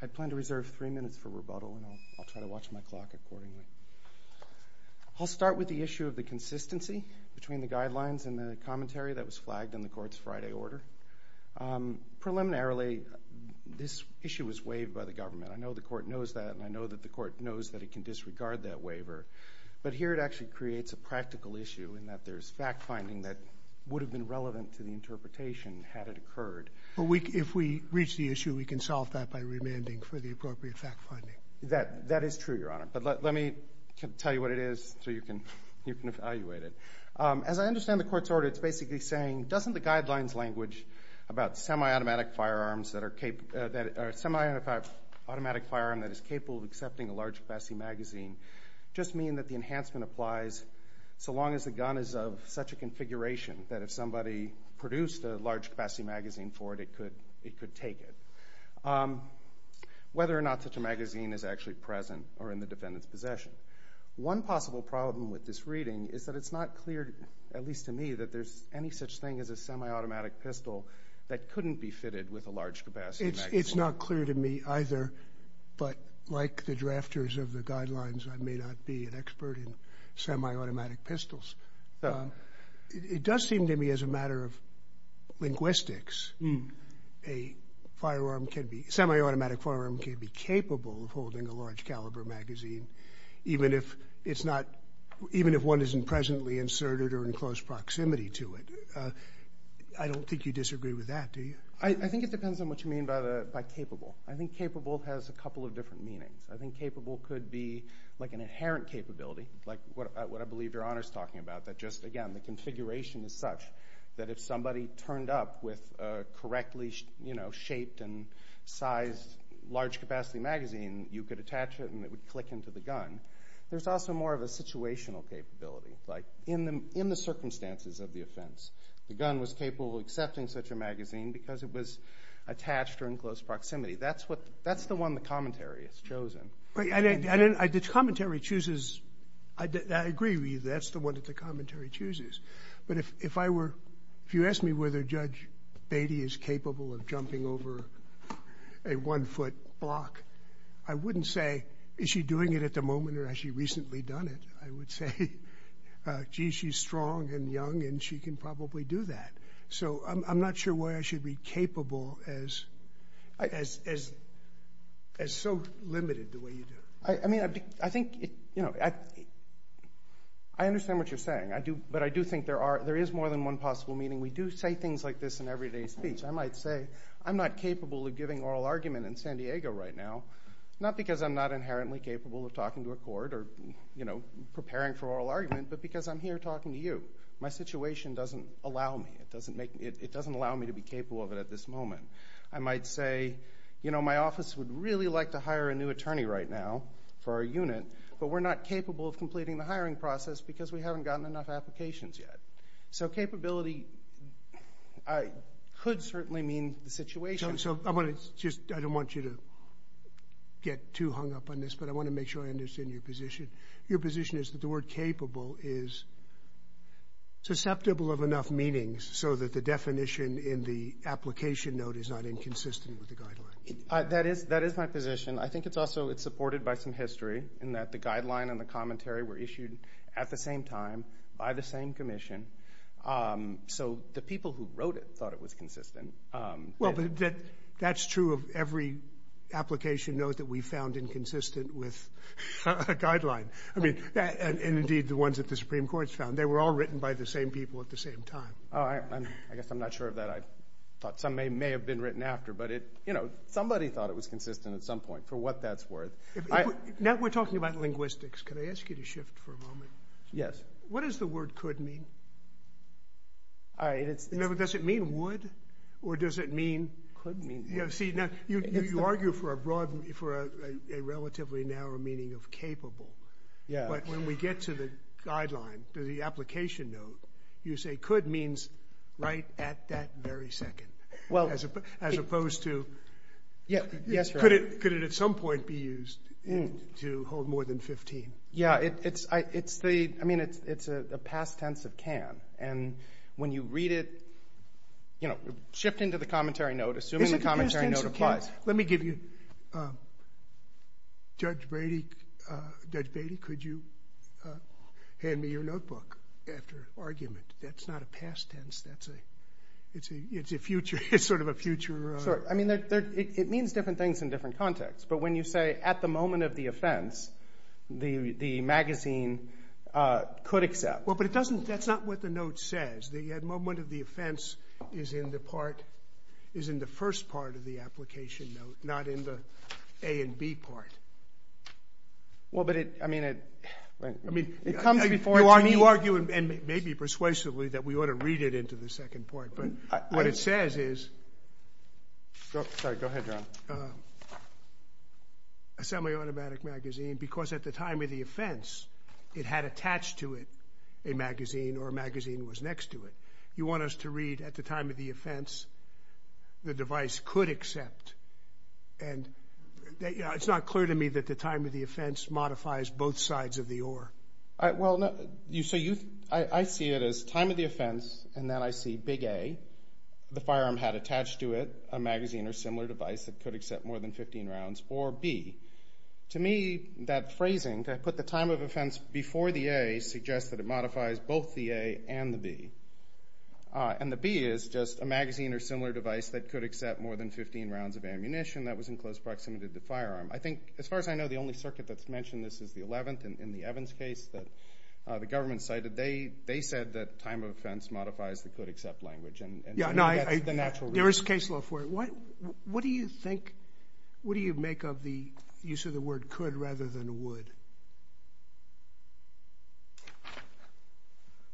I plan to reserve three minutes for rebuttal, and I'll try to watch my clock accordingly. I'll start with the issue of the consistency between the guidelines and the commentary that was flagged in the Court's Friday order. Preliminarily, this issue was waived by the government. I know the Court knows that, and I know that the Court knows that it can disregard that waiver. But here it actually creates a practical issue in that there's fact-finding that would have been relevant to the interpretation had it occurred. If we reach the issue, we can solve that by remanding for the appropriate fact-finding. That is true, Your Honor. But let me tell you what it is so you can evaluate it. As I understand the Court's order, it's basically saying, doesn't the guidelines language about semi-automatic firearms that are capable of accepting a large-capacity magazine just mean that the enhancement applies so long as the gun is of such a configuration that if somebody produced a large-capacity magazine for it, it could take it, whether or not such a magazine is actually present or in the defendant's possession? One possible problem with this reading is that it's not clear, at least to me, that there's any such thing as a semi-automatic pistol that couldn't be fitted with a large-capacity magazine. It's not clear to me either, but like the drafters of the guidelines, I may not be an expert in semi-automatic pistols. It does seem to me as a matter of linguistics, a semi-automatic firearm can be capable of holding a large-caliber magazine, even if one isn't presently inserted or in close proximity to it. I don't think you disagree with that, do you? I think it depends on what you mean by capable. I think capable has a couple of different meanings. I think capable could be like an inherent capability, like what I believe Your Honor is talking about, that just, again, the configuration is such that if somebody turned up with a correctly shaped and sized large-capacity magazine, you could attach it and it would click into the gun. There's also more of a situational capability, like in the circumstances of the offense, the gun was capable of accepting such a magazine because it was attached or in close proximity. That's the one the commentary has chosen. The commentary chooses, I agree with you, that's the one that the commentary chooses, but if you asked me whether Judge Beatty is capable of jumping over a one-foot block, I wouldn't say, is she doing it at the moment or has she recently done it? I would say, gee, she's strong and young and she can probably do that. So I'm not sure why I should be capable as so limited the way you do it. I mean, I think, you know, I understand what you're saying, but I do think there is more than one possible meaning. We do say things like this in everyday speech. I might say, I'm not capable of giving oral argument in San Diego right now, not because I'm not inherently capable of talking to a court or, you know, preparing for oral argument, but because I'm here talking to you. My situation doesn't allow me, it doesn't allow me to be capable of it at this moment. I might say, you know, my office would really like to hire a new attorney right now for our unit, but we're not capable of completing the hiring process because we haven't gotten enough applications yet. So capability could certainly mean the situation. So I want to just, I don't want you to get too hung up on this, but I want to make sure I understand your position. Your position is that the word capable is susceptible of enough meanings so that the definition in the application note is not inconsistent with the guideline. That is my position. I think it's also, it's supported by some history in that the guideline and the commentary were issued at the same time by the same commission. So the people who wrote it thought it was consistent. Well but that's true of every application note that we found inconsistent with a guideline. I mean, and indeed the ones that the Supreme Court's found. They were all written by the same people at the same time. Oh, I guess I'm not sure of that. I thought some may have been written after, but it, you know, somebody thought it was consistent at some point for what that's worth. Now we're talking about linguistics. Can I ask you to shift for a moment? Yes. What does the word could mean? All right. Does it mean would? Or does it mean? Could mean. You know, see, now you argue for a relatively narrow meaning of capable, but when we get to the guideline, to the application note, you say could means right at that very second. As opposed to, could it at some point be used to hold more than 15? Yeah, it's the, I mean, it's a past tense of can. And when you read it, you know, shift into the commentary note, assuming the commentary Is it a past tense of can? Let me give you, Judge Brady, Judge Beatty, could you hand me your notebook after argument? That's not a past tense, that's a, it's a future, it's sort of a future. Sure. I mean, it means different things in different contexts, but when you say at the moment of the offense, the, the magazine could accept. Well, but it doesn't, that's not what the note says. The moment of the offense is in the part, is in the first part of the application note, not in the A and B part. Well, but it, I mean, it, I mean, it comes before. You argue and maybe persuasively that we ought to read it into the second part, but what it says is, sorry, go ahead, John, a semi-automatic magazine, because at the time of the offense, it had attached to it a magazine or a magazine was next to it. You want us to read at the time of the offense, the device could accept and that, you know, it's not clear to me that the time of the offense modifies both sides of the oar. Well, you, so you, I, I see it as time of the offense, and then I see big A, the firearm had attached to it a magazine or similar device that could accept more than 15 rounds, or B. To me, that phrasing, to put the time of offense before the A, suggests that it modifies both the A and the B. And the B is just a magazine or similar device that could accept more than 15 rounds of ammunition that was in close proximity to the firearm. I think, as far as I know, the only circuit that's mentioned this is the 11th in the Evans case that the government cited. They, they said that time of offense modifies the could accept language and that's the natural reason. There is case law for it. What, what do you think, what do you make of the use of the word could rather than would?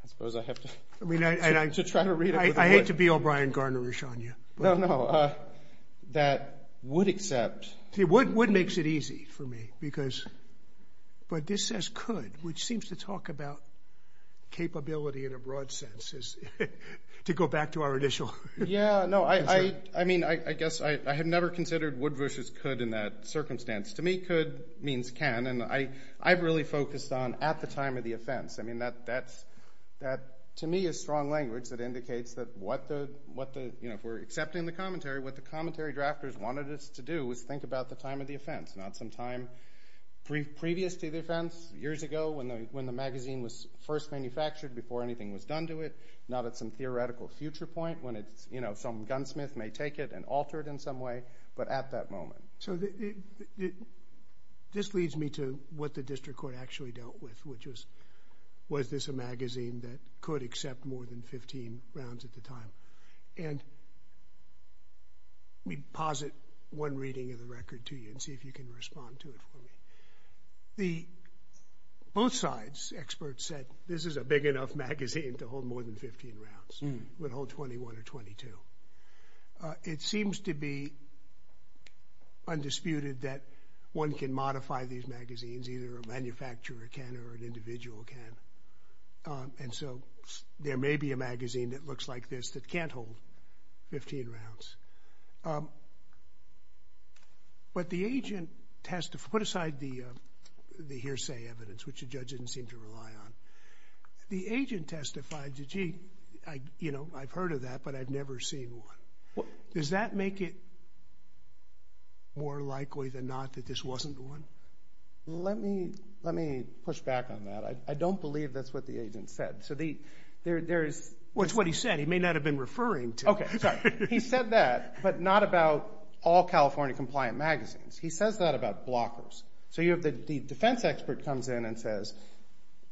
I suppose I have to, to try to read it with a word. I mean, I, I hate to be O'Brien Garner-ish on you, but. No, no. That would accept. See, would, would makes it easy for me because, but this says could, which seems to talk about capability in a broad sense, is to go back to our initial. Yeah, no, I, I, I mean, I, I guess I, I have never considered would versus could in that circumstance. To me, could means can, and I, I've really focused on at the time of the offense. I mean, that, that's, that to me is strong language that indicates that what the, what the, you know, if we're accepting the commentary, what the commentary drafters wanted us to do was think about the time of the offense, not some time pre, previous to the offense, years ago when the, when the magazine was first manufactured, before anything was done to it, not at some theoretical future point when it's, you know, some gunsmith may take it and alter it in some way, but at that moment. So the, the, this leads me to what the district court actually dealt with, which was, was this a magazine that could accept more than 15 rounds at the time? And we posit one reading of the record to you and see if you can respond to it for me. The, both sides, experts said, this is a big enough magazine to hold more than 15 rounds. It would hold 21 or 22. It seems to be undisputed that one can modify these magazines, either a manufacturer can or an individual can. And so there may be a magazine that looks like this that can't hold 15 rounds. But the agent testified, put aside the, the hearsay evidence, which the judge didn't seem to rely on. The agent testified that, gee, I, you know, I've heard of that, but I've never seen one. Does that make it more likely than not that this wasn't one? Let me, let me push back on that. I don't believe that's what the agent said. So the, there, there is. What's what he said. He may not have been referring to. Okay. Sorry. He said that, but not about all California compliant magazines. He says that about blockers. So you have the defense expert comes in and says,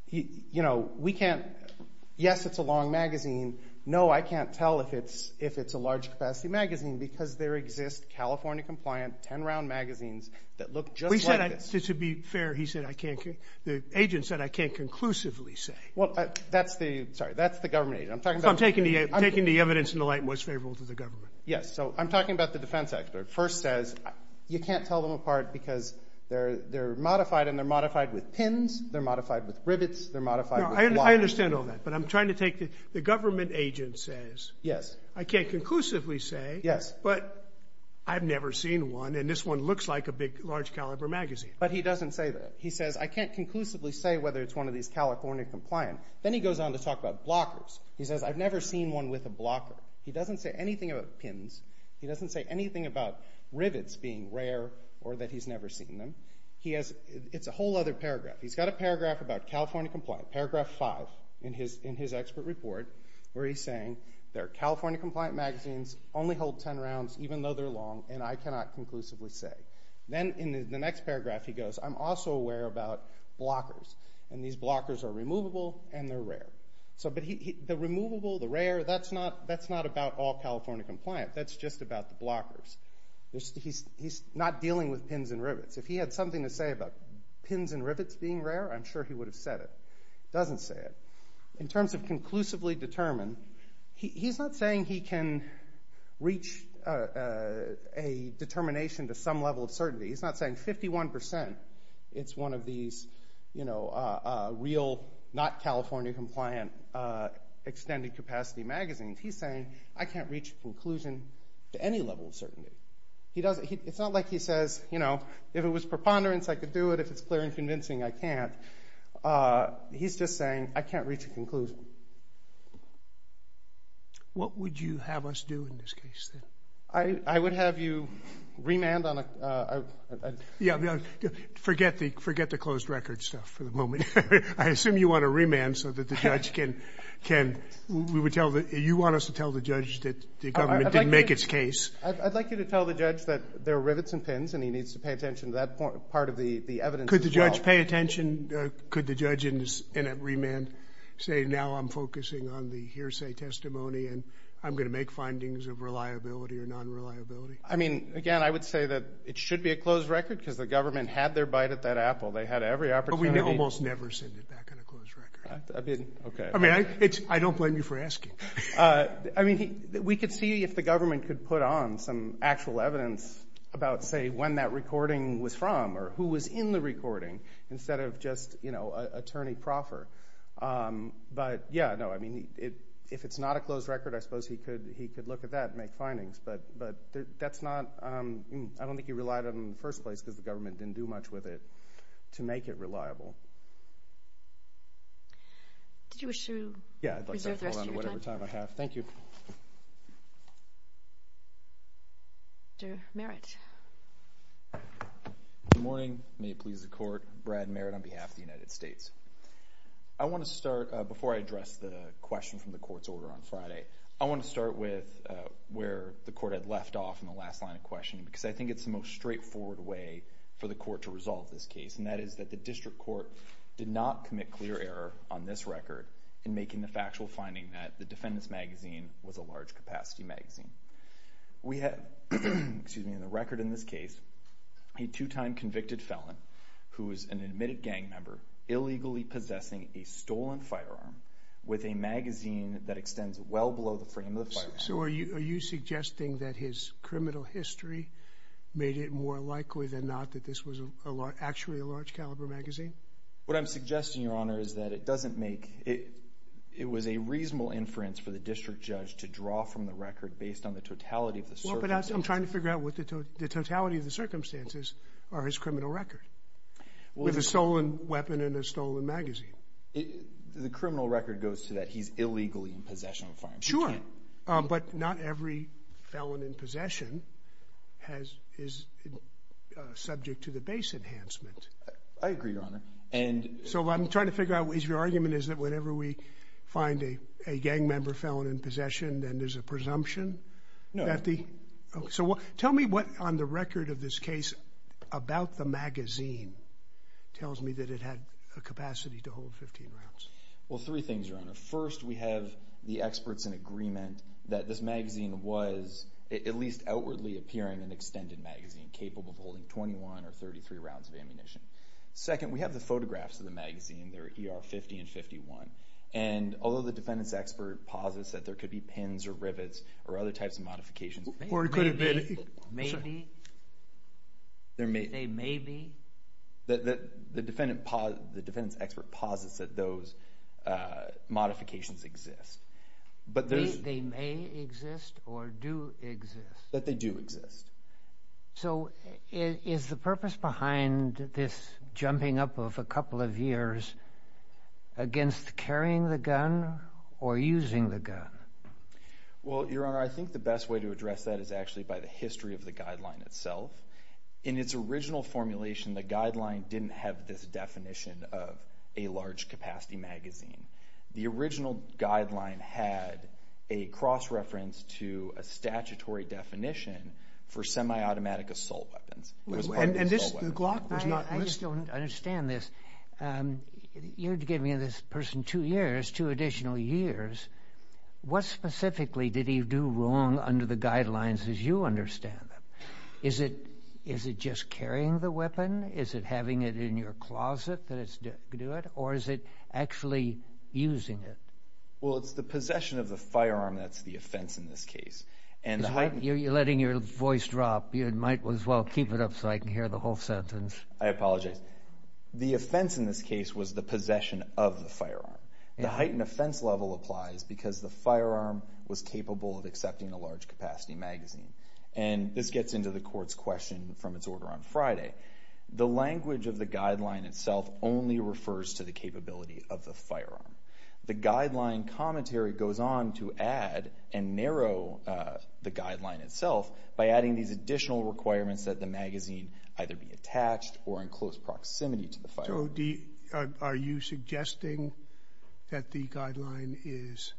he, you know, we can't, yes, it's a long magazine. No, I can't tell if it's, if it's a large capacity magazine because there exists California compliant 10 round magazines that look just like this. To be fair. He said, I can't, the agent said, I can't conclusively say, well, that's the, sorry, that's the government agent. I'm talking about taking the evidence in the light and what's favorable to the government. Yes. So I'm talking about the defense expert first says you can't tell them apart because they're, they're modified and they're modified with pins. They're modified with rivets. They're modified. I understand all that, but I'm trying to take the, the government agent says, yes, I can't conclusively say, yes, but I've never seen one and this one looks like a big, large caliber magazine. But he doesn't say that. He says, I can't conclusively say whether it's one of these California compliant. Then he goes on to talk about blockers. He says, I've never seen one with a blocker. He doesn't say anything about pins. He doesn't say anything about rivets being rare or that he's never seen them. He has, it's a whole other paragraph. He's got a paragraph about California compliant, paragraph five in his, in his expert report where he's saying they're California compliant magazines only hold 10 rounds even though they're long and I cannot conclusively say. Then in the next paragraph he goes, I'm also aware about blockers and these blockers are removable and they're rare. So, but he, he, the removable, the rare, that's not, that's not about all California compliant. That's just about the blockers. There's, he's, he's not dealing with pins and rivets. If he had something to say about pins and rivets being rare, I'm sure he would have said it. He doesn't say it. In terms of conclusively determined, he, he's not saying he can reach a, a determination to some level of certainty. He's not saying 51% it's one of these, you know, real, not California compliant, extended capacity magazines. He's saying I can't reach a conclusion to any level of certainty. He doesn't, he, it's not like he says, you know, if it was preponderance I could do it, if it's clear and convincing I can't. He's just saying I can't reach a conclusion. What would you have us do in this case then? I, I would have you remand on a, a, a, yeah, forget the, forget the closed record stuff for the moment. I assume you want to remand so that the judge can, can, we would tell the, you want us to tell the judge that the government didn't make its case. I'd like you to tell the judge that there are rivets and pins and he needs to pay attention to that part of the, the evidence as well. Could the judge pay attention? Could the judge in a remand say now I'm focusing on the hearsay testimony and I'm going to make findings of reliability or non-reliability? I mean, again, I would say that it should be a closed record because the government had their bite at that apple. They had every opportunity. But we almost never send it back on a closed record. Okay. I mean, I, it's, I don't blame you for asking. I mean, he, we could see if the government could put on some actual evidence about, say, when that recording was from or who was in the recording instead of just, you know, attorney proffer. But, yeah, no, I mean, it, if it's not a closed record, I suppose he could, he could look at that and make findings. But, but that's not, I don't think he relied on it in the first place because the government didn't do much with it to make it reliable. Did you wish to reserve the rest of your time? Yeah, I'd like to hold on to whatever time I have. Thank you. Mr. Merritt. Good morning. May it please the court. Brad Merritt on behalf of the United States. I want to start, before I address the question from the court's order on Friday, I want to start with where the court had left off in the last line of questioning because I think it's the most straightforward way for the court to resolve this case, and that is that the district court did not commit clear error on this record in making the factual finding that the defendant's magazine was a large capacity magazine. We have, excuse me, in the record in this case, a two-time convicted felon who is an admitted gang member illegally possessing a stolen firearm with a magazine that extends well below the frame of the firearm. So are you suggesting that his criminal history made it more likely than not that this was actually a large caliber magazine? What I'm suggesting, Your Honor, is that it doesn't make, it was a reasonable inference for the district judge to draw from the record based on the totality of the circumstances. Well, but I'm trying to figure out what the totality of the circumstances are in his criminal record with a stolen weapon and a stolen magazine. The criminal record goes to that he's illegally in possession of a firearm. Sure, but not every felon in possession is subject to the base enhancement. I agree, Your Honor. So what I'm trying to figure out is your argument is that whenever we find a gang member felon in possession, then there's a presumption? No. So tell me what on the record of this case about the magazine tells me that it had a maximum of 15 rounds? Well, three things, Your Honor. First, we have the experts in agreement that this magazine was, at least outwardly, appearing an extended magazine capable of holding 21 or 33 rounds of ammunition. Second, we have the photographs of the magazine, they're ER 50 and 51. And although the defendant's expert posits that there could be pins or rivets or other types of modifications. Or it could have been. Maybe. I'm sorry. Maybe. They may be. The defendant's expert posits that those modifications exist. But they may exist or do exist? That they do exist. So is the purpose behind this jumping up of a couple of years against carrying the gun or using the gun? Well, Your Honor, I think the best way to address that is actually by the history of the guideline itself. In its original formulation, the guideline didn't have this definition of a large capacity magazine. The original guideline had a cross-reference to a statutory definition for semi-automatic assault weapons. It was part of the assault weapons. And this, the Glock was not listed? I just don't understand this. You're giving this person two years, two additional years. What specifically did he do wrong under the guidelines as you understand them? Is it just carrying the weapon? Is it having it in your closet that it's doing it? Or is it actually using it? Well, it's the possession of the firearm that's the offense in this case. You're letting your voice drop. You might as well keep it up so I can hear the whole sentence. I apologize. The offense in this case was the possession of the firearm. The heightened offense level applies because the firearm was capable of accepting a large capacity magazine. And this gets into the court's question from its order on Friday. The language of the guideline itself only refers to the capability of the firearm. The guideline commentary goes on to add and narrow the guideline itself by adding these additional requirements that the magazine either be attached or in close proximity to the firearm. So are you suggesting that the guideline is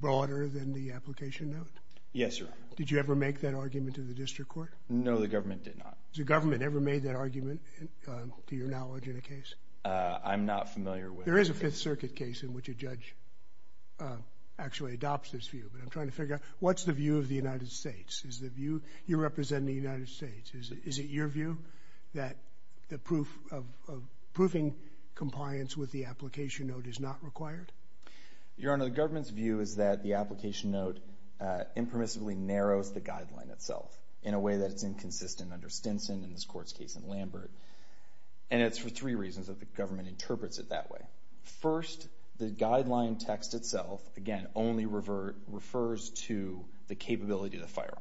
broader than the application note? Yes, Your Honor. Did you ever make that argument in the district court? No, the government did not. Has the government ever made that argument to your knowledge in a case? I'm not familiar with it. There is a Fifth Circuit case in which a judge actually adopts this view, but I'm trying to figure out what's the view of the United States? Is the view you're representing the United States? Is it your view that the proof of proofing compliance with the application note is not required? Your Honor, the government's view is that the application note impermissibly narrows the guideline itself in a way that it's inconsistent under Stinson and this court's case in Lambert. And it's for three reasons that the government interprets it that way. First, the guideline text itself, again, only refers to the capability of the firearm.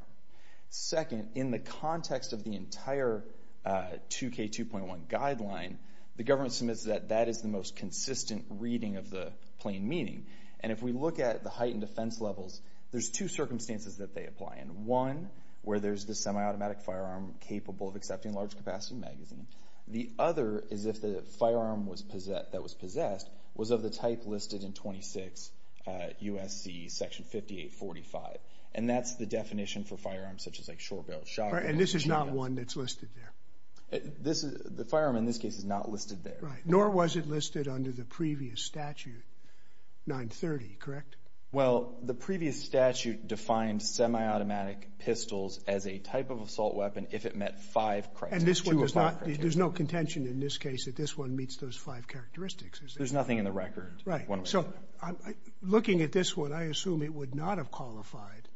Second, in the context of the entire 2K2.1 guideline, the government submits that that is the most consistent reading of the plain meaning. And if we look at the heightened defense levels, there's two circumstances that they apply in. One, where there's the semi-automatic firearm capable of accepting large capacity magazine. The other is if the firearm that was possessed was of the type listed in 26 U.S.C. section 5845. And that's the definition for firearms such as, like, short-barreled shotgun. And this is not one that's listed there? The firearm in this case is not listed there. Right. Nor was it listed under the previous statute, 930, correct? Well, the previous statute defined semi-automatic pistols as a type of assault weapon if it met five criteria. And this one does not, there's no contention in this case that this one meets those five characteristics. There's nothing in the record. Right. So, looking at this one, I assume it would not have qualified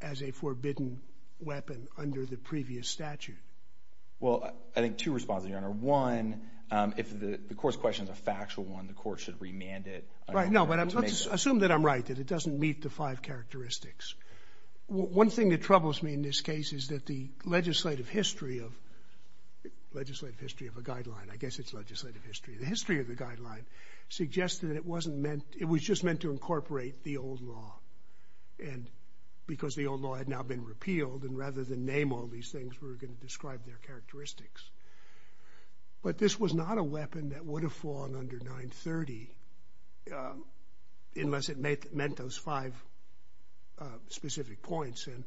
as a forbidden weapon under the previous statute. Well, I think two responses, Your Honor. One, if the court's question is a factual one, the court should remand it. Right. No, but let's assume that I'm right, that it doesn't meet the five characteristics. One thing that troubles me in this case is that the legislative history of, legislative history of a guideline, I guess it's legislative history, the history of the guideline suggests that it wasn't meant, it was just meant to incorporate the old law. And because the old law had now been repealed, and rather than name all these things, we're going to describe their characteristics. But this was not a weapon that would have fallen under 930 unless it met those five specific points. And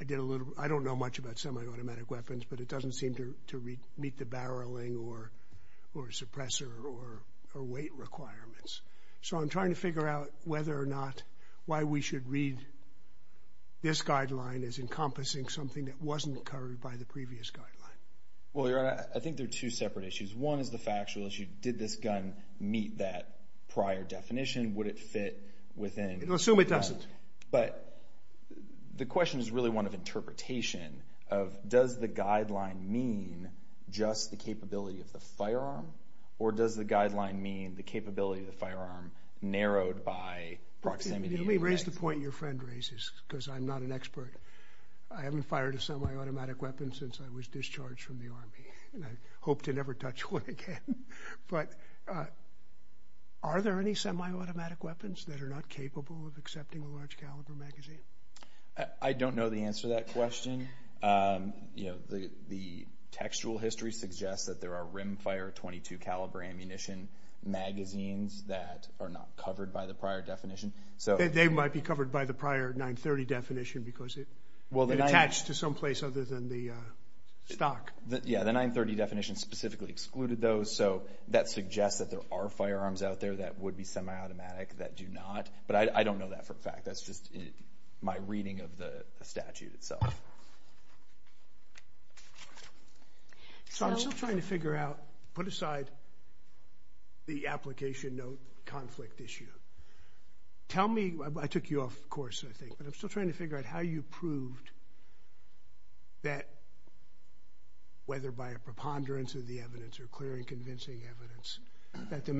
I did a little, I don't know much about semi-automatic weapons, but it doesn't seem to meet the barreling or suppressor or weight requirements. So I'm trying to figure out whether or not, why we should read this guideline as encompassing something that wasn't covered by the previous guideline. Well, Your Honor, I think there are two separate issues. One is the factual issue. Did this gun meet that prior definition? Would it fit within? I'm going to assume it doesn't. But the question is really one of interpretation of, does the guideline mean just the capability of the firearm? Or does the guideline mean the capability of the firearm narrowed by proximity to the gun? Let me raise the point your friend raises, because I'm not an expert. I haven't fired a semi-automatic weapon since I was discharged from the Army, and I hope to never touch one again. But are there any semi-automatic weapons that are not capable of accepting a large caliber magazine? I don't know the answer to that question. The textual history suggests that there are rimfire .22 caliber ammunition magazines that are not covered by the prior definition. They might be covered by the prior 930 definition because it attached to some place other than the stock. Yeah, the 930 definition specifically excluded those. So that suggests that there are firearms out there that would be semi-automatic that do not. But I don't know that for a fact. That's just my reading of the statute itself. So, I'm still trying to figure out, put aside the application note conflict issue. Tell me, I took you off course I think, but I'm still trying to figure out how you proved that, whether by a preponderance of the evidence or clear and convincing evidence, that the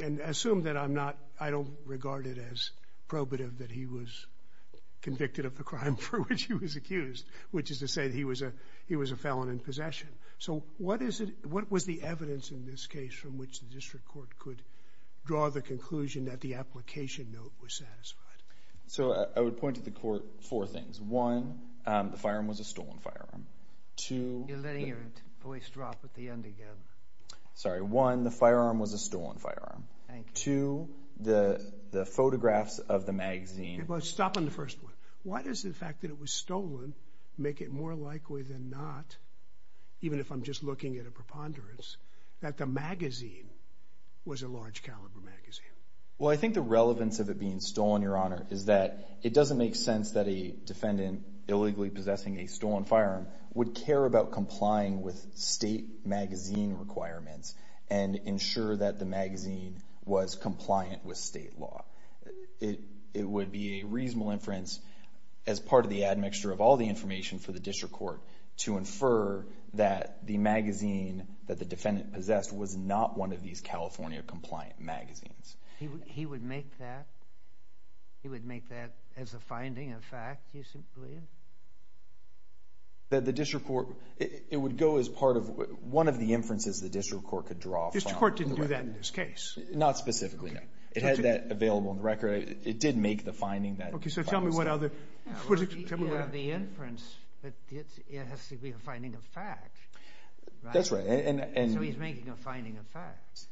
And assume that I'm not, I don't regard it as probative that he was convicted of the crime for which he was accused, which is to say that he was a felon in possession. So what is it, what was the evidence in this case from which the district court could draw the conclusion that the application note was satisfied? So I would point to the court four things. One, the firearm was a stolen firearm. You're letting your voice drop at the end again. Sorry. One, the firearm was a stolen firearm. Two, the photographs of the magazine. Stop on the first one. Why does the fact that it was stolen make it more likely than not, even if I'm just looking at a preponderance, that the magazine was a large caliber magazine? Well, I think the relevance of it being stolen, Your Honor, is that it doesn't make sense that a defendant illegally possessing a stolen firearm would care about complying with state magazine requirements and ensure that the magazine was compliant with state law. It would be a reasonable inference as part of the admixture of all the information for the district court to infer that the magazine that the defendant possessed was not one of these California compliant magazines. He would make that, he would make that as a finding, a fact, you believe? That the district court, it would go as part of one of the inferences the district court could draw from the record. The district court didn't do that in this case? Not specifically, no. It had that available in the record. It did make the finding that it was a fact. Okay, so tell me what other, tell me what other... Well, if you have the inference, it has to be a finding of fact, right? That's right, and... So he's making a finding of fact.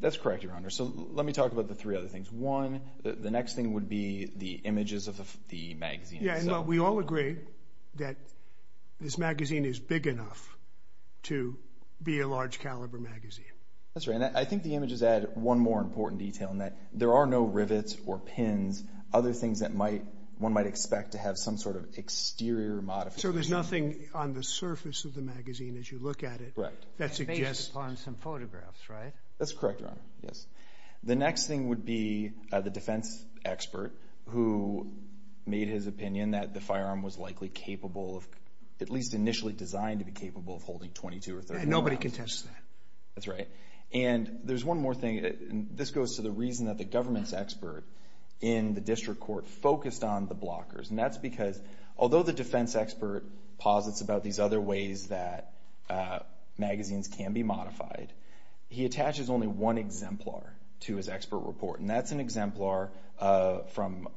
That's correct, Your Honor. So let me talk about the three other things. One, the next thing would be the images of the magazine itself. Yeah, and we all agree that this magazine is big enough to be a large caliber magazine. That's right, and I think the images add one more important detail in that there are no rivets or pins, other things that one might expect to have some sort of exterior modification. So there's nothing on the surface of the magazine as you look at it that suggests... Based upon some photographs, right? That's correct, Your Honor, yes. The next thing would be the defense expert who made his opinion that the firearm was likely capable of, at least initially designed to be capable of holding 22 or 23 rounds. Nobody can test that. That's right, and there's one more thing, and this goes to the reason that the government's expert in the district court focused on the blockers, and that's because although the defense expert posits about these other ways that magazines can be modified, he attaches only one exemplar to his expert report, and that's an exemplar from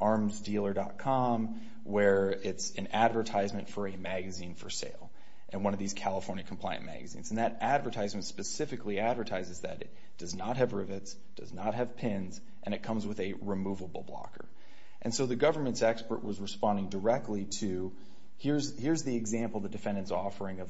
ArmsDealer.com where it's an advertisement for a magazine for sale, and one of these California compliant magazines, and that advertisement specifically advertises that it does not have rivets, does not have pins, and it comes with a removable blocker. And so the government's expert was responding directly to, here's the example the defendant's California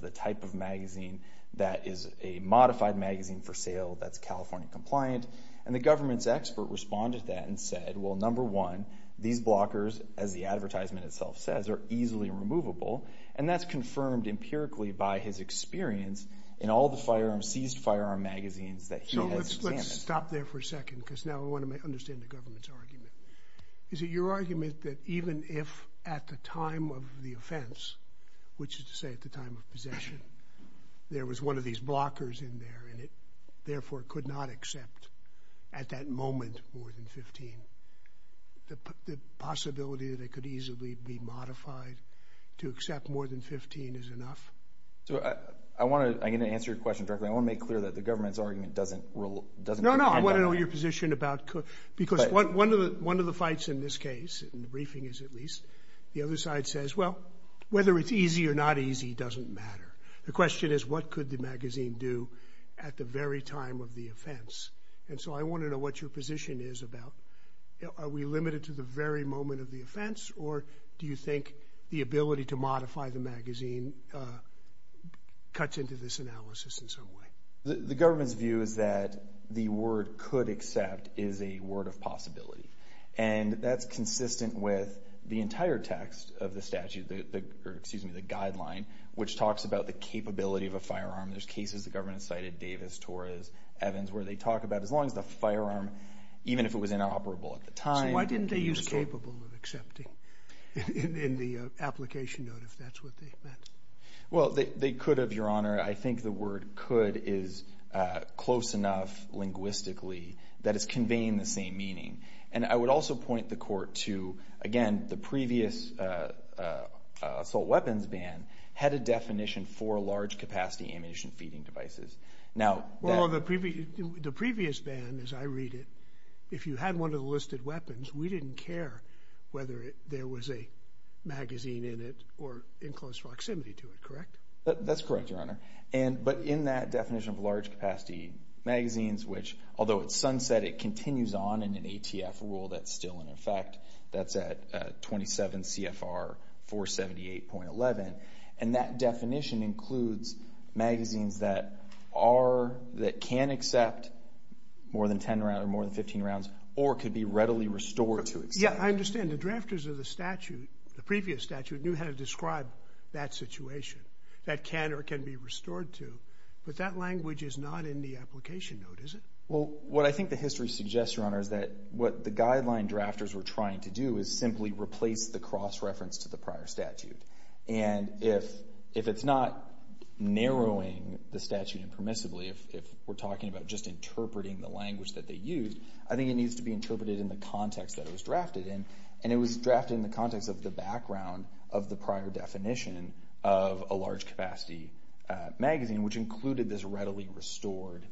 compliant, and the government's expert responded to that and said, well, number one, these blockers, as the advertisement itself says, are easily removable, and that's confirmed empirically by his experience in all the firearms, seized firearm magazines that he has examined. So let's stop there for a second because now I want to understand the government's argument. Is it your argument that even if at the time of the offense, which is to say at the time of possession, there was one of these blockers in there, and it therefore could not accept at that moment more than 15, the possibility that it could easily be modified to accept more than 15 is enough? I want to, I'm going to answer your question directly, I want to make clear that the government's argument doesn't rule, doesn't No, no, I want to know your position about, because one of the fights in this case, in The question is what could the magazine do at the very time of the offense, and so I want to know what your position is about, are we limited to the very moment of the offense, or do you think the ability to modify the magazine cuts into this analysis in some way? The government's view is that the word could accept is a word of possibility, and that's about the capability of a firearm, there's cases the government cited Davis, Torres, Evans, where they talk about as long as the firearm, even if it was inoperable at the time So why didn't they use capable of accepting, in the application note, if that's what they meant? Well, they could have, your honor, I think the word could is close enough linguistically that it's conveying the same meaning, and I would also point the court to, again, the definition for large capacity ammunition feeding devices, now Well, the previous ban, as I read it, if you had one of the listed weapons, we didn't care whether there was a magazine in it or in close proximity to it, correct? That's correct, your honor, but in that definition of large capacity magazines, which, although it's sunset, it continues on in an ATF rule that's still in effect, that's at 27 CFR 478.11, and that definition includes magazines that are, that can accept more than 10 rounds or more than 15 rounds, or could be readily restored to accept Yeah, I understand, the drafters of the statute, the previous statute, knew how to describe that situation, that can or can be restored to, but that language is not in the application note, is it? Well, what I think the history suggests, your honor, is that what the guideline drafters were trying to do is simply replace the cross-reference to the prior statute, and if it's not narrowing the statute impermissibly, if we're talking about just interpreting the language that they used, I think it needs to be interpreted in the context that it was drafted in, and it was drafted in the context of the background of the prior definition of a large capacity magazine, which included this readily restored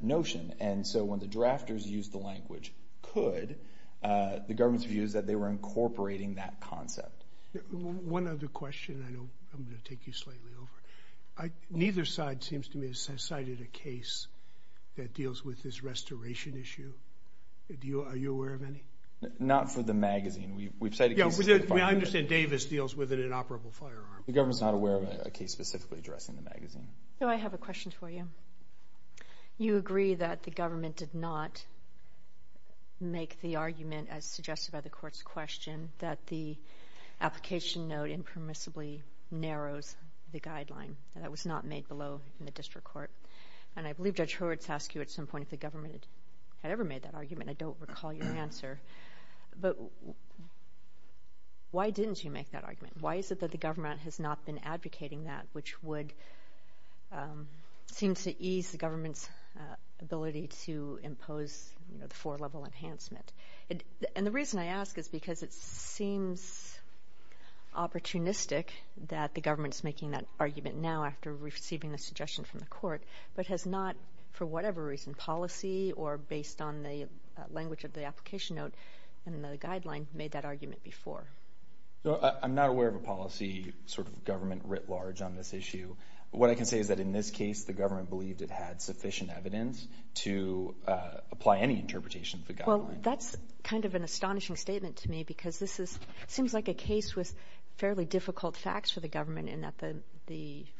notion, and so when the drafters used the the government's view is that they were incorporating that concept. One other question, and I'm going to take you slightly over, neither side seems to me has cited a case that deals with this restoration issue, are you aware of any? Not for the magazine, we've cited cases Yeah, I understand Davis deals with an inoperable firearm The government's not aware of a case specifically addressing the magazine No, I have a question for you. You agree that the government did not make the argument as suggested by the court's question that the application note impermissibly narrows the guideline, that was not made below in the district court, and I believe Judge Hurwitz asked you at some point if the government had ever made that argument, I don't recall your answer, but why didn't you make that argument? Why is it that the government has not been advocating that, which would, seems to ease the government's ability to impose the four level enhancement, and the reason I ask is because it seems opportunistic that the government's making that argument now after receiving a suggestion from the court, but has not, for whatever reason, policy, or based on the language of the application note and the guideline, made that argument before? I'm not aware of a policy sort of government writ large on this issue, what I can say is that in this case the government believed it had sufficient evidence to apply any interpretation of the guideline Well, that's kind of an astonishing statement to me because this is, seems like a case with fairly difficult facts for the government in that the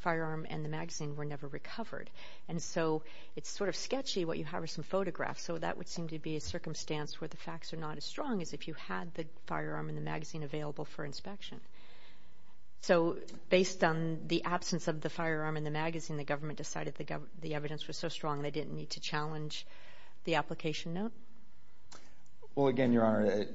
firearm and the magazine were never recovered, and so it's sort of sketchy what you have are some photographs, so that would seem to be a circumstance where the facts are not as strong as if you had the evidence available for inspection. So based on the absence of the firearm and the magazine, the government decided the evidence was so strong they didn't need to challenge the application note? Well, again, Your Honor,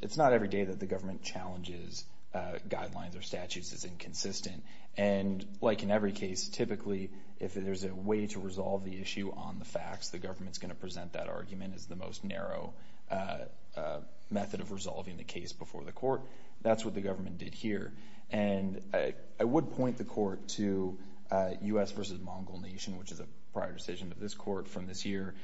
it's not every day that the government challenges guidelines or statutes as inconsistent, and like in every case, typically if there's a way to resolve the issue on the facts, the government's going to present that argument as the most narrow method of resolving the case before the court. That's what the government did here, and I would point the court to U.S. v. Mongol Nation, which is a prior decision of this court from this year,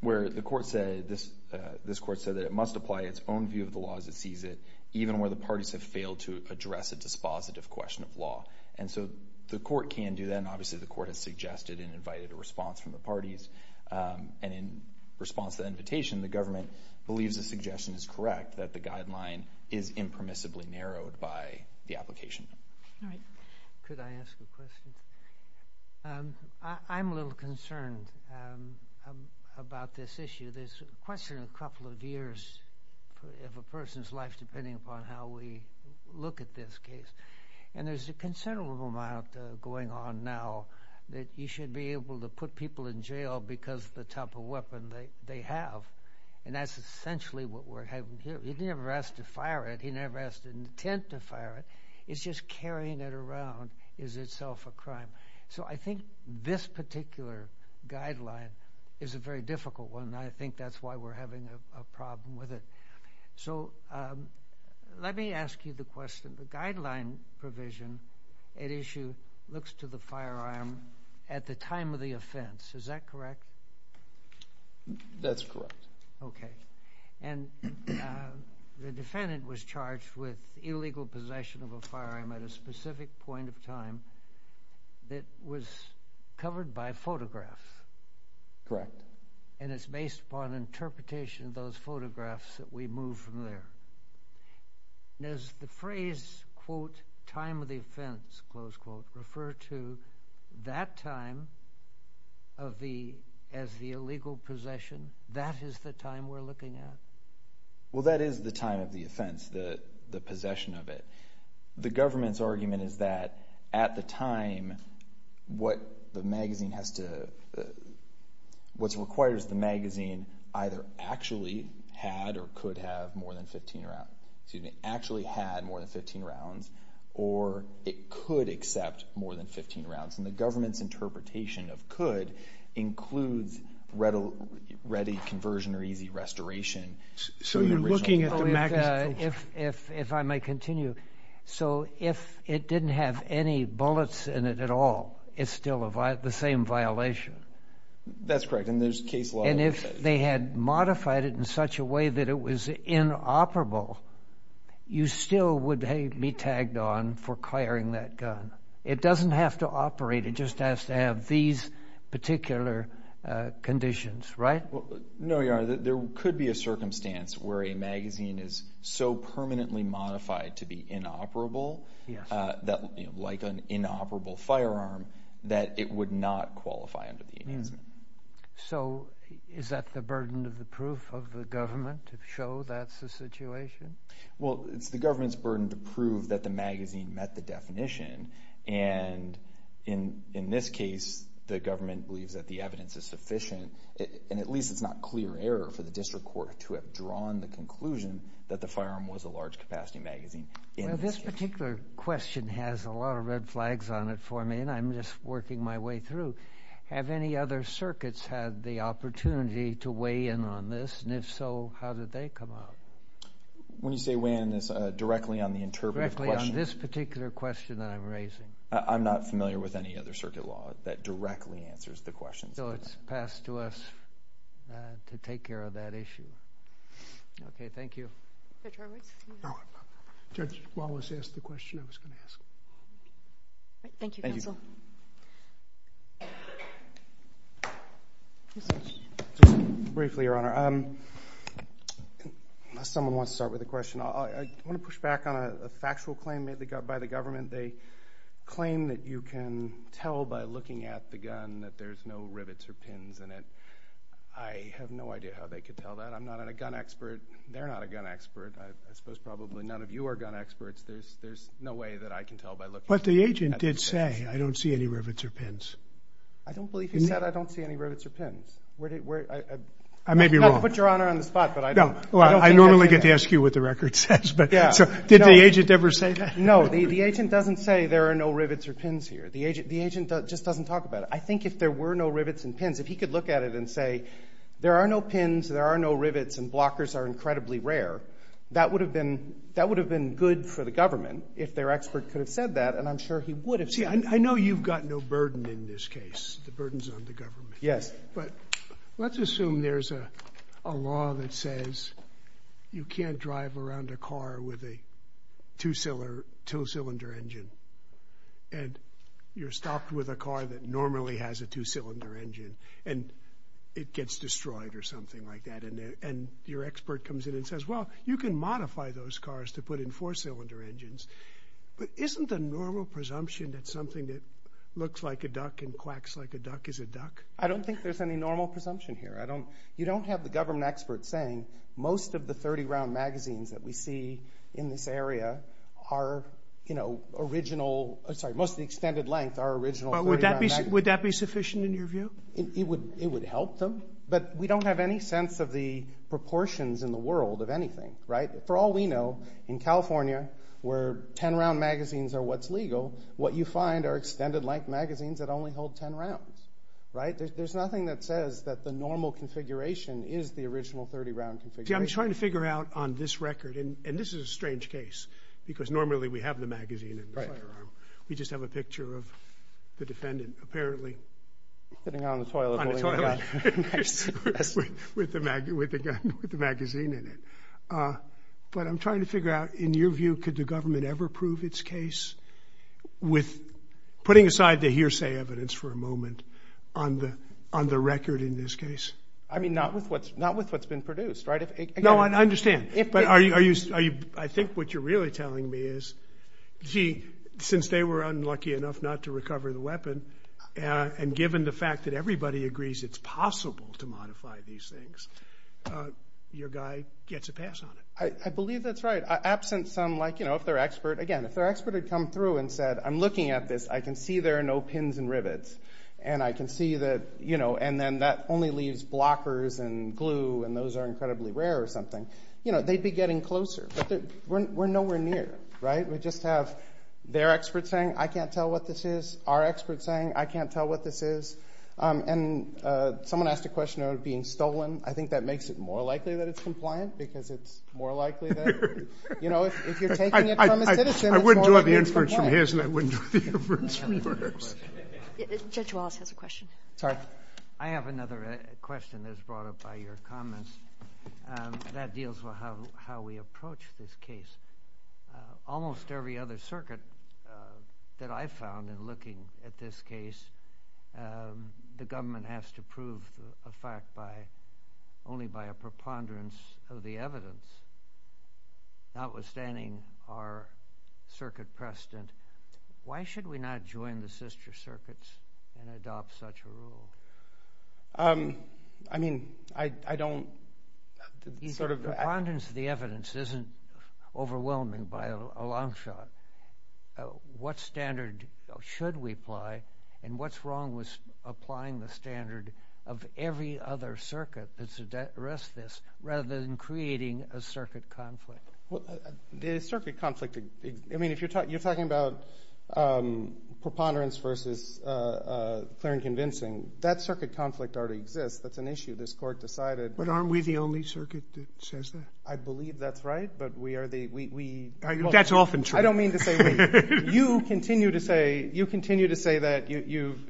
where the court said, this court said that it must apply its own view of the law as it sees it, even where the parties have failed to address a dispositive question of law. And so the court can do that, and obviously the court has suggested and invited a response from the parties, and in response to that invitation, the government believes the suggestion is correct, that the guideline is impermissibly narrowed by the application. All right. Could I ask a question? I'm a little concerned about this issue. There's a question in a couple of years of a person's life, depending upon how we look at this case, and there's a considerable amount going on now that you should be able to put people in jail because of the type of weapon they have, and that's essentially what we're having here. He never asked to fire it. He never asked intent to fire it. It's just carrying it around is itself a crime. So I think this particular guideline is a very difficult one, and I think that's why we're having a problem with it. So let me ask you the question. The guideline provision at issue looks to the firearm at the time of the offense. Is that correct? That's correct. Okay. And the defendant was charged with illegal possession of a firearm at a specific point of time that was covered by photographs. Correct. And it's based upon interpretation of those photographs that we move from there. And does the phrase, quote, time of the offense, close quote, refer to that time as the illegal possession? That is the time we're looking at? Well, that is the time of the offense, the possession of it. The government's argument is that at the time, what the magazine has to, what requires the actually had more than 15 rounds, or it could accept more than 15 rounds. And the government's interpretation of could includes ready conversion or easy restoration. So you're looking at the magazine? If I may continue. So if it didn't have any bullets in it at all, it's still the same violation? That's correct. And there's case law that says- If they had modified it in such a way that it was inoperable, you still would be tagged on for clearing that gun. It doesn't have to operate, it just has to have these particular conditions, right? No, Your Honor. There could be a circumstance where a magazine is so permanently modified to be inoperable, like an inoperable firearm, that it would not qualify under the Enhancement. So is that the burden of the proof of the government to show that's the situation? Well, it's the government's burden to prove that the magazine met the definition. And in this case, the government believes that the evidence is sufficient, and at least it's not clear error for the district court to have drawn the conclusion that the firearm was a large capacity magazine. Well, this particular question has a lot of red flags on it for me, and I'm just working my way through. Have any other circuits had the opportunity to weigh in on this? And if so, how did they come up? When you say weigh in, it's directly on the interpretive question? Directly on this particular question that I'm raising. I'm not familiar with any other circuit law that directly answers the question. So it's passed to us to take care of that issue. Okay, thank you. Judge Wallace. Judge Wallace asked the question I was going to ask. Thank you, counsel. Just briefly, Your Honor, unless someone wants to start with a question. I want to push back on a factual claim made by the government. They claim that you can tell by looking at the gun that there's no rivets or pins in it. I have no idea how they could tell that. I'm not a gun expert. They're not a gun expert. I suppose probably none of you are gun experts. There's no way that I can tell by looking at the gun. But the agent did say, I don't see any rivets or pins. I don't believe he said, I don't see any rivets or pins. I may be wrong. I don't want to put Your Honor on the spot, but I don't. I normally get to ask you what the record says, but did the agent ever say that? No, the agent doesn't say there are no rivets or pins here. The agent just doesn't talk about it. I think if there were no rivets and pins, if he could look at it and say, there are no pins, there are no rivets, and blockers are incredibly rare, that would have been good for the government if their expert could have said that, and I'm sure he would have said it. I know you've got no burden in this case. The burden's on the government. Yes. But let's assume there's a law that says you can't drive around a car with a two-cylinder engine, and you're stopped with a car that normally has a two-cylinder engine, and it gets destroyed or something like that, and your expert comes in and says, well, you can modify those cars to put in four-cylinder engines. But isn't the normal presumption that something that looks like a duck and quacks like a duck is a duck? I don't think there's any normal presumption here. You don't have the government expert saying, most of the 30-round magazines that we see in this area are original, sorry, most of the extended length are original 30-round magazines. Would that be sufficient in your view? It would help them, but we don't have any sense of the proportions in the world of anything, right? For all we know, in California, where 10-round magazines are what's legal, what you find are extended length magazines that only hold 10 rounds, right? There's nothing that says that the normal configuration is the original 30-round configuration. I'm trying to figure out on this record, and this is a strange case, because normally we have the magazine in the firearm. We just have a picture of the defendant, apparently. Sitting on the toilet. On the toilet. With the magazine in it. But I'm trying to figure out, in your view, could the government ever prove its case with putting aside the hearsay evidence for a moment on the record in this case? I mean, not with what's been produced, right? No, I understand. I think what you're really telling me is, see, since they were unlucky enough not to recover the weapon, and given the fact that everybody agrees it's possible to modify these things, your guy gets a pass on it. I believe that's right. Absent some, like, you know, if their expert, again, if their expert had come through and said, I'm looking at this, I can see there are no pins and rivets, and I can see that, you know, and then that only leaves blockers and glue, and those are incredibly rare or something, you know, they'd be getting closer. But we're nowhere near, right? We just have their experts saying, I can't tell what this is. Our experts saying, I can't tell what this is. And someone asked a question about it being stolen. I think that makes it more likely that it's compliant, because it's more likely that, you know, if you're taking it from a citizen, it's more likely it's from you. I wouldn't do it the inference from his, and I wouldn't do it the inference from yours. Judge Wallace has a question. Sorry. I have another question that's brought up by your comments. That deals with how we approach this case. Almost every other circuit that I've found in looking at this case, the government has to prove a fact by, only by a preponderance of the evidence. Notwithstanding our circuit precedent, why should we not join the sister circuits and adopt such a rule? I mean, I don't sort of— the evidence isn't overwhelming by a long shot. What standard should we apply? And what's wrong with applying the standard of every other circuit that's addressed this rather than creating a circuit conflict? Well, the circuit conflict, I mean, if you're talking about preponderance versus clear and convincing, that circuit conflict already exists. That's an issue. This court decided— But aren't we the only circuit that says that? I believe that's right, but we are the— That's often true. I don't mean to say we. You continue to say that.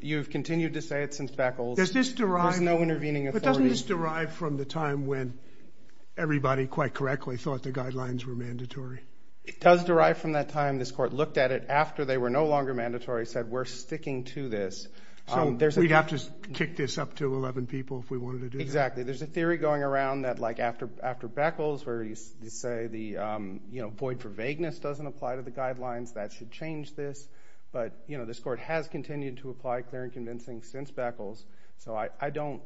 You've continued to say it since Beckles. Does this derive— There's no intervening authority. But doesn't this derive from the time when everybody, quite correctly, thought the guidelines were mandatory? It does derive from that time. This court looked at it after they were no longer mandatory, said, we're sticking to this. We'd have to kick this up to 11 people if we wanted to do that. Exactly. There's a theory going around that after Beckles, where you say the void for vagueness doesn't apply to the guidelines, that should change this. But this court has continued to apply clear and convincing since Beckles. So I don't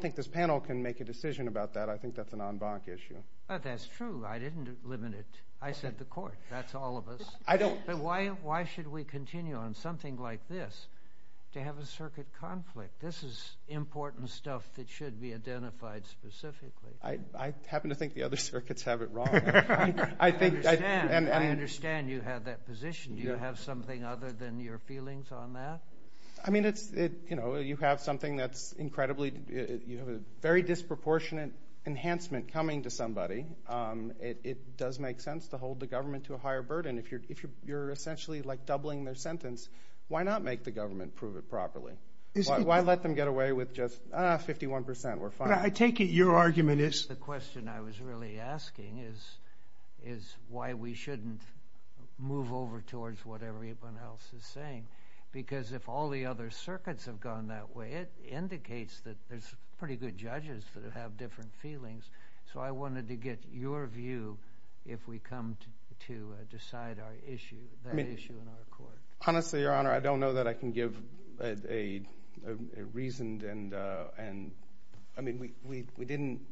think this panel can make a decision about that. I think that's an en banc issue. That's true. I didn't limit it. I said the court. That's all of us. Why should we continue on something like this to have a circuit conflict? This is important stuff that should be identified specifically. I happen to think the other circuits have it wrong. I understand you have that position. Do you have something other than your feelings on that? You have something that's incredibly—you have a very disproportionate enhancement coming to somebody. It does make sense to hold the government to a higher burden. If you're essentially doubling their sentence, why not make the government prove it properly? Why let them get away with just, ah, 51 percent, we're fine. I take it your argument is— The question I was really asking is why we shouldn't move over towards what everyone else is saying, because if all the other circuits have gone that way, it indicates that there's pretty good judges that have different feelings. So I wanted to get your view if we come to decide that issue in our court. Honestly, Your Honor, I don't know that I can give a reason. I mean, we didn't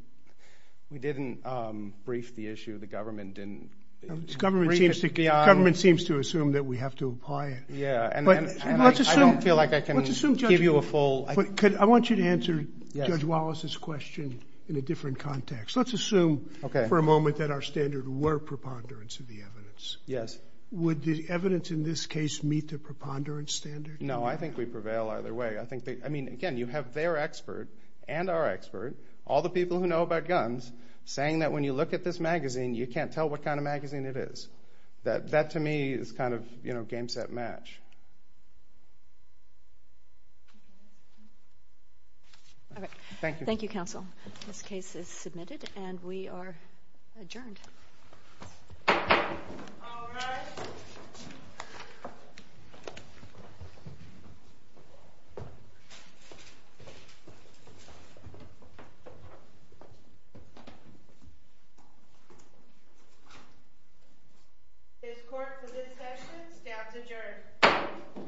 brief the issue. The government didn't— The government seems to assume that we have to apply it. Yeah, and I don't feel like I can give you a full— I want you to answer Judge Wallace's question in a different context. Let's assume for a moment that our standard were preponderance of the evidence. Yes. Would the evidence in this case meet the preponderance standard? No, I think we prevail either way. I think they—I mean, again, you have their expert and our expert, all the people who know about guns, saying that when you look at this magazine, you can't tell what kind of magazine it is. That to me is kind of, you know, game, set, match. All right. Thank you, counsel. This case is submitted, and we are adjourned. All rise. This court for this session stands adjourned.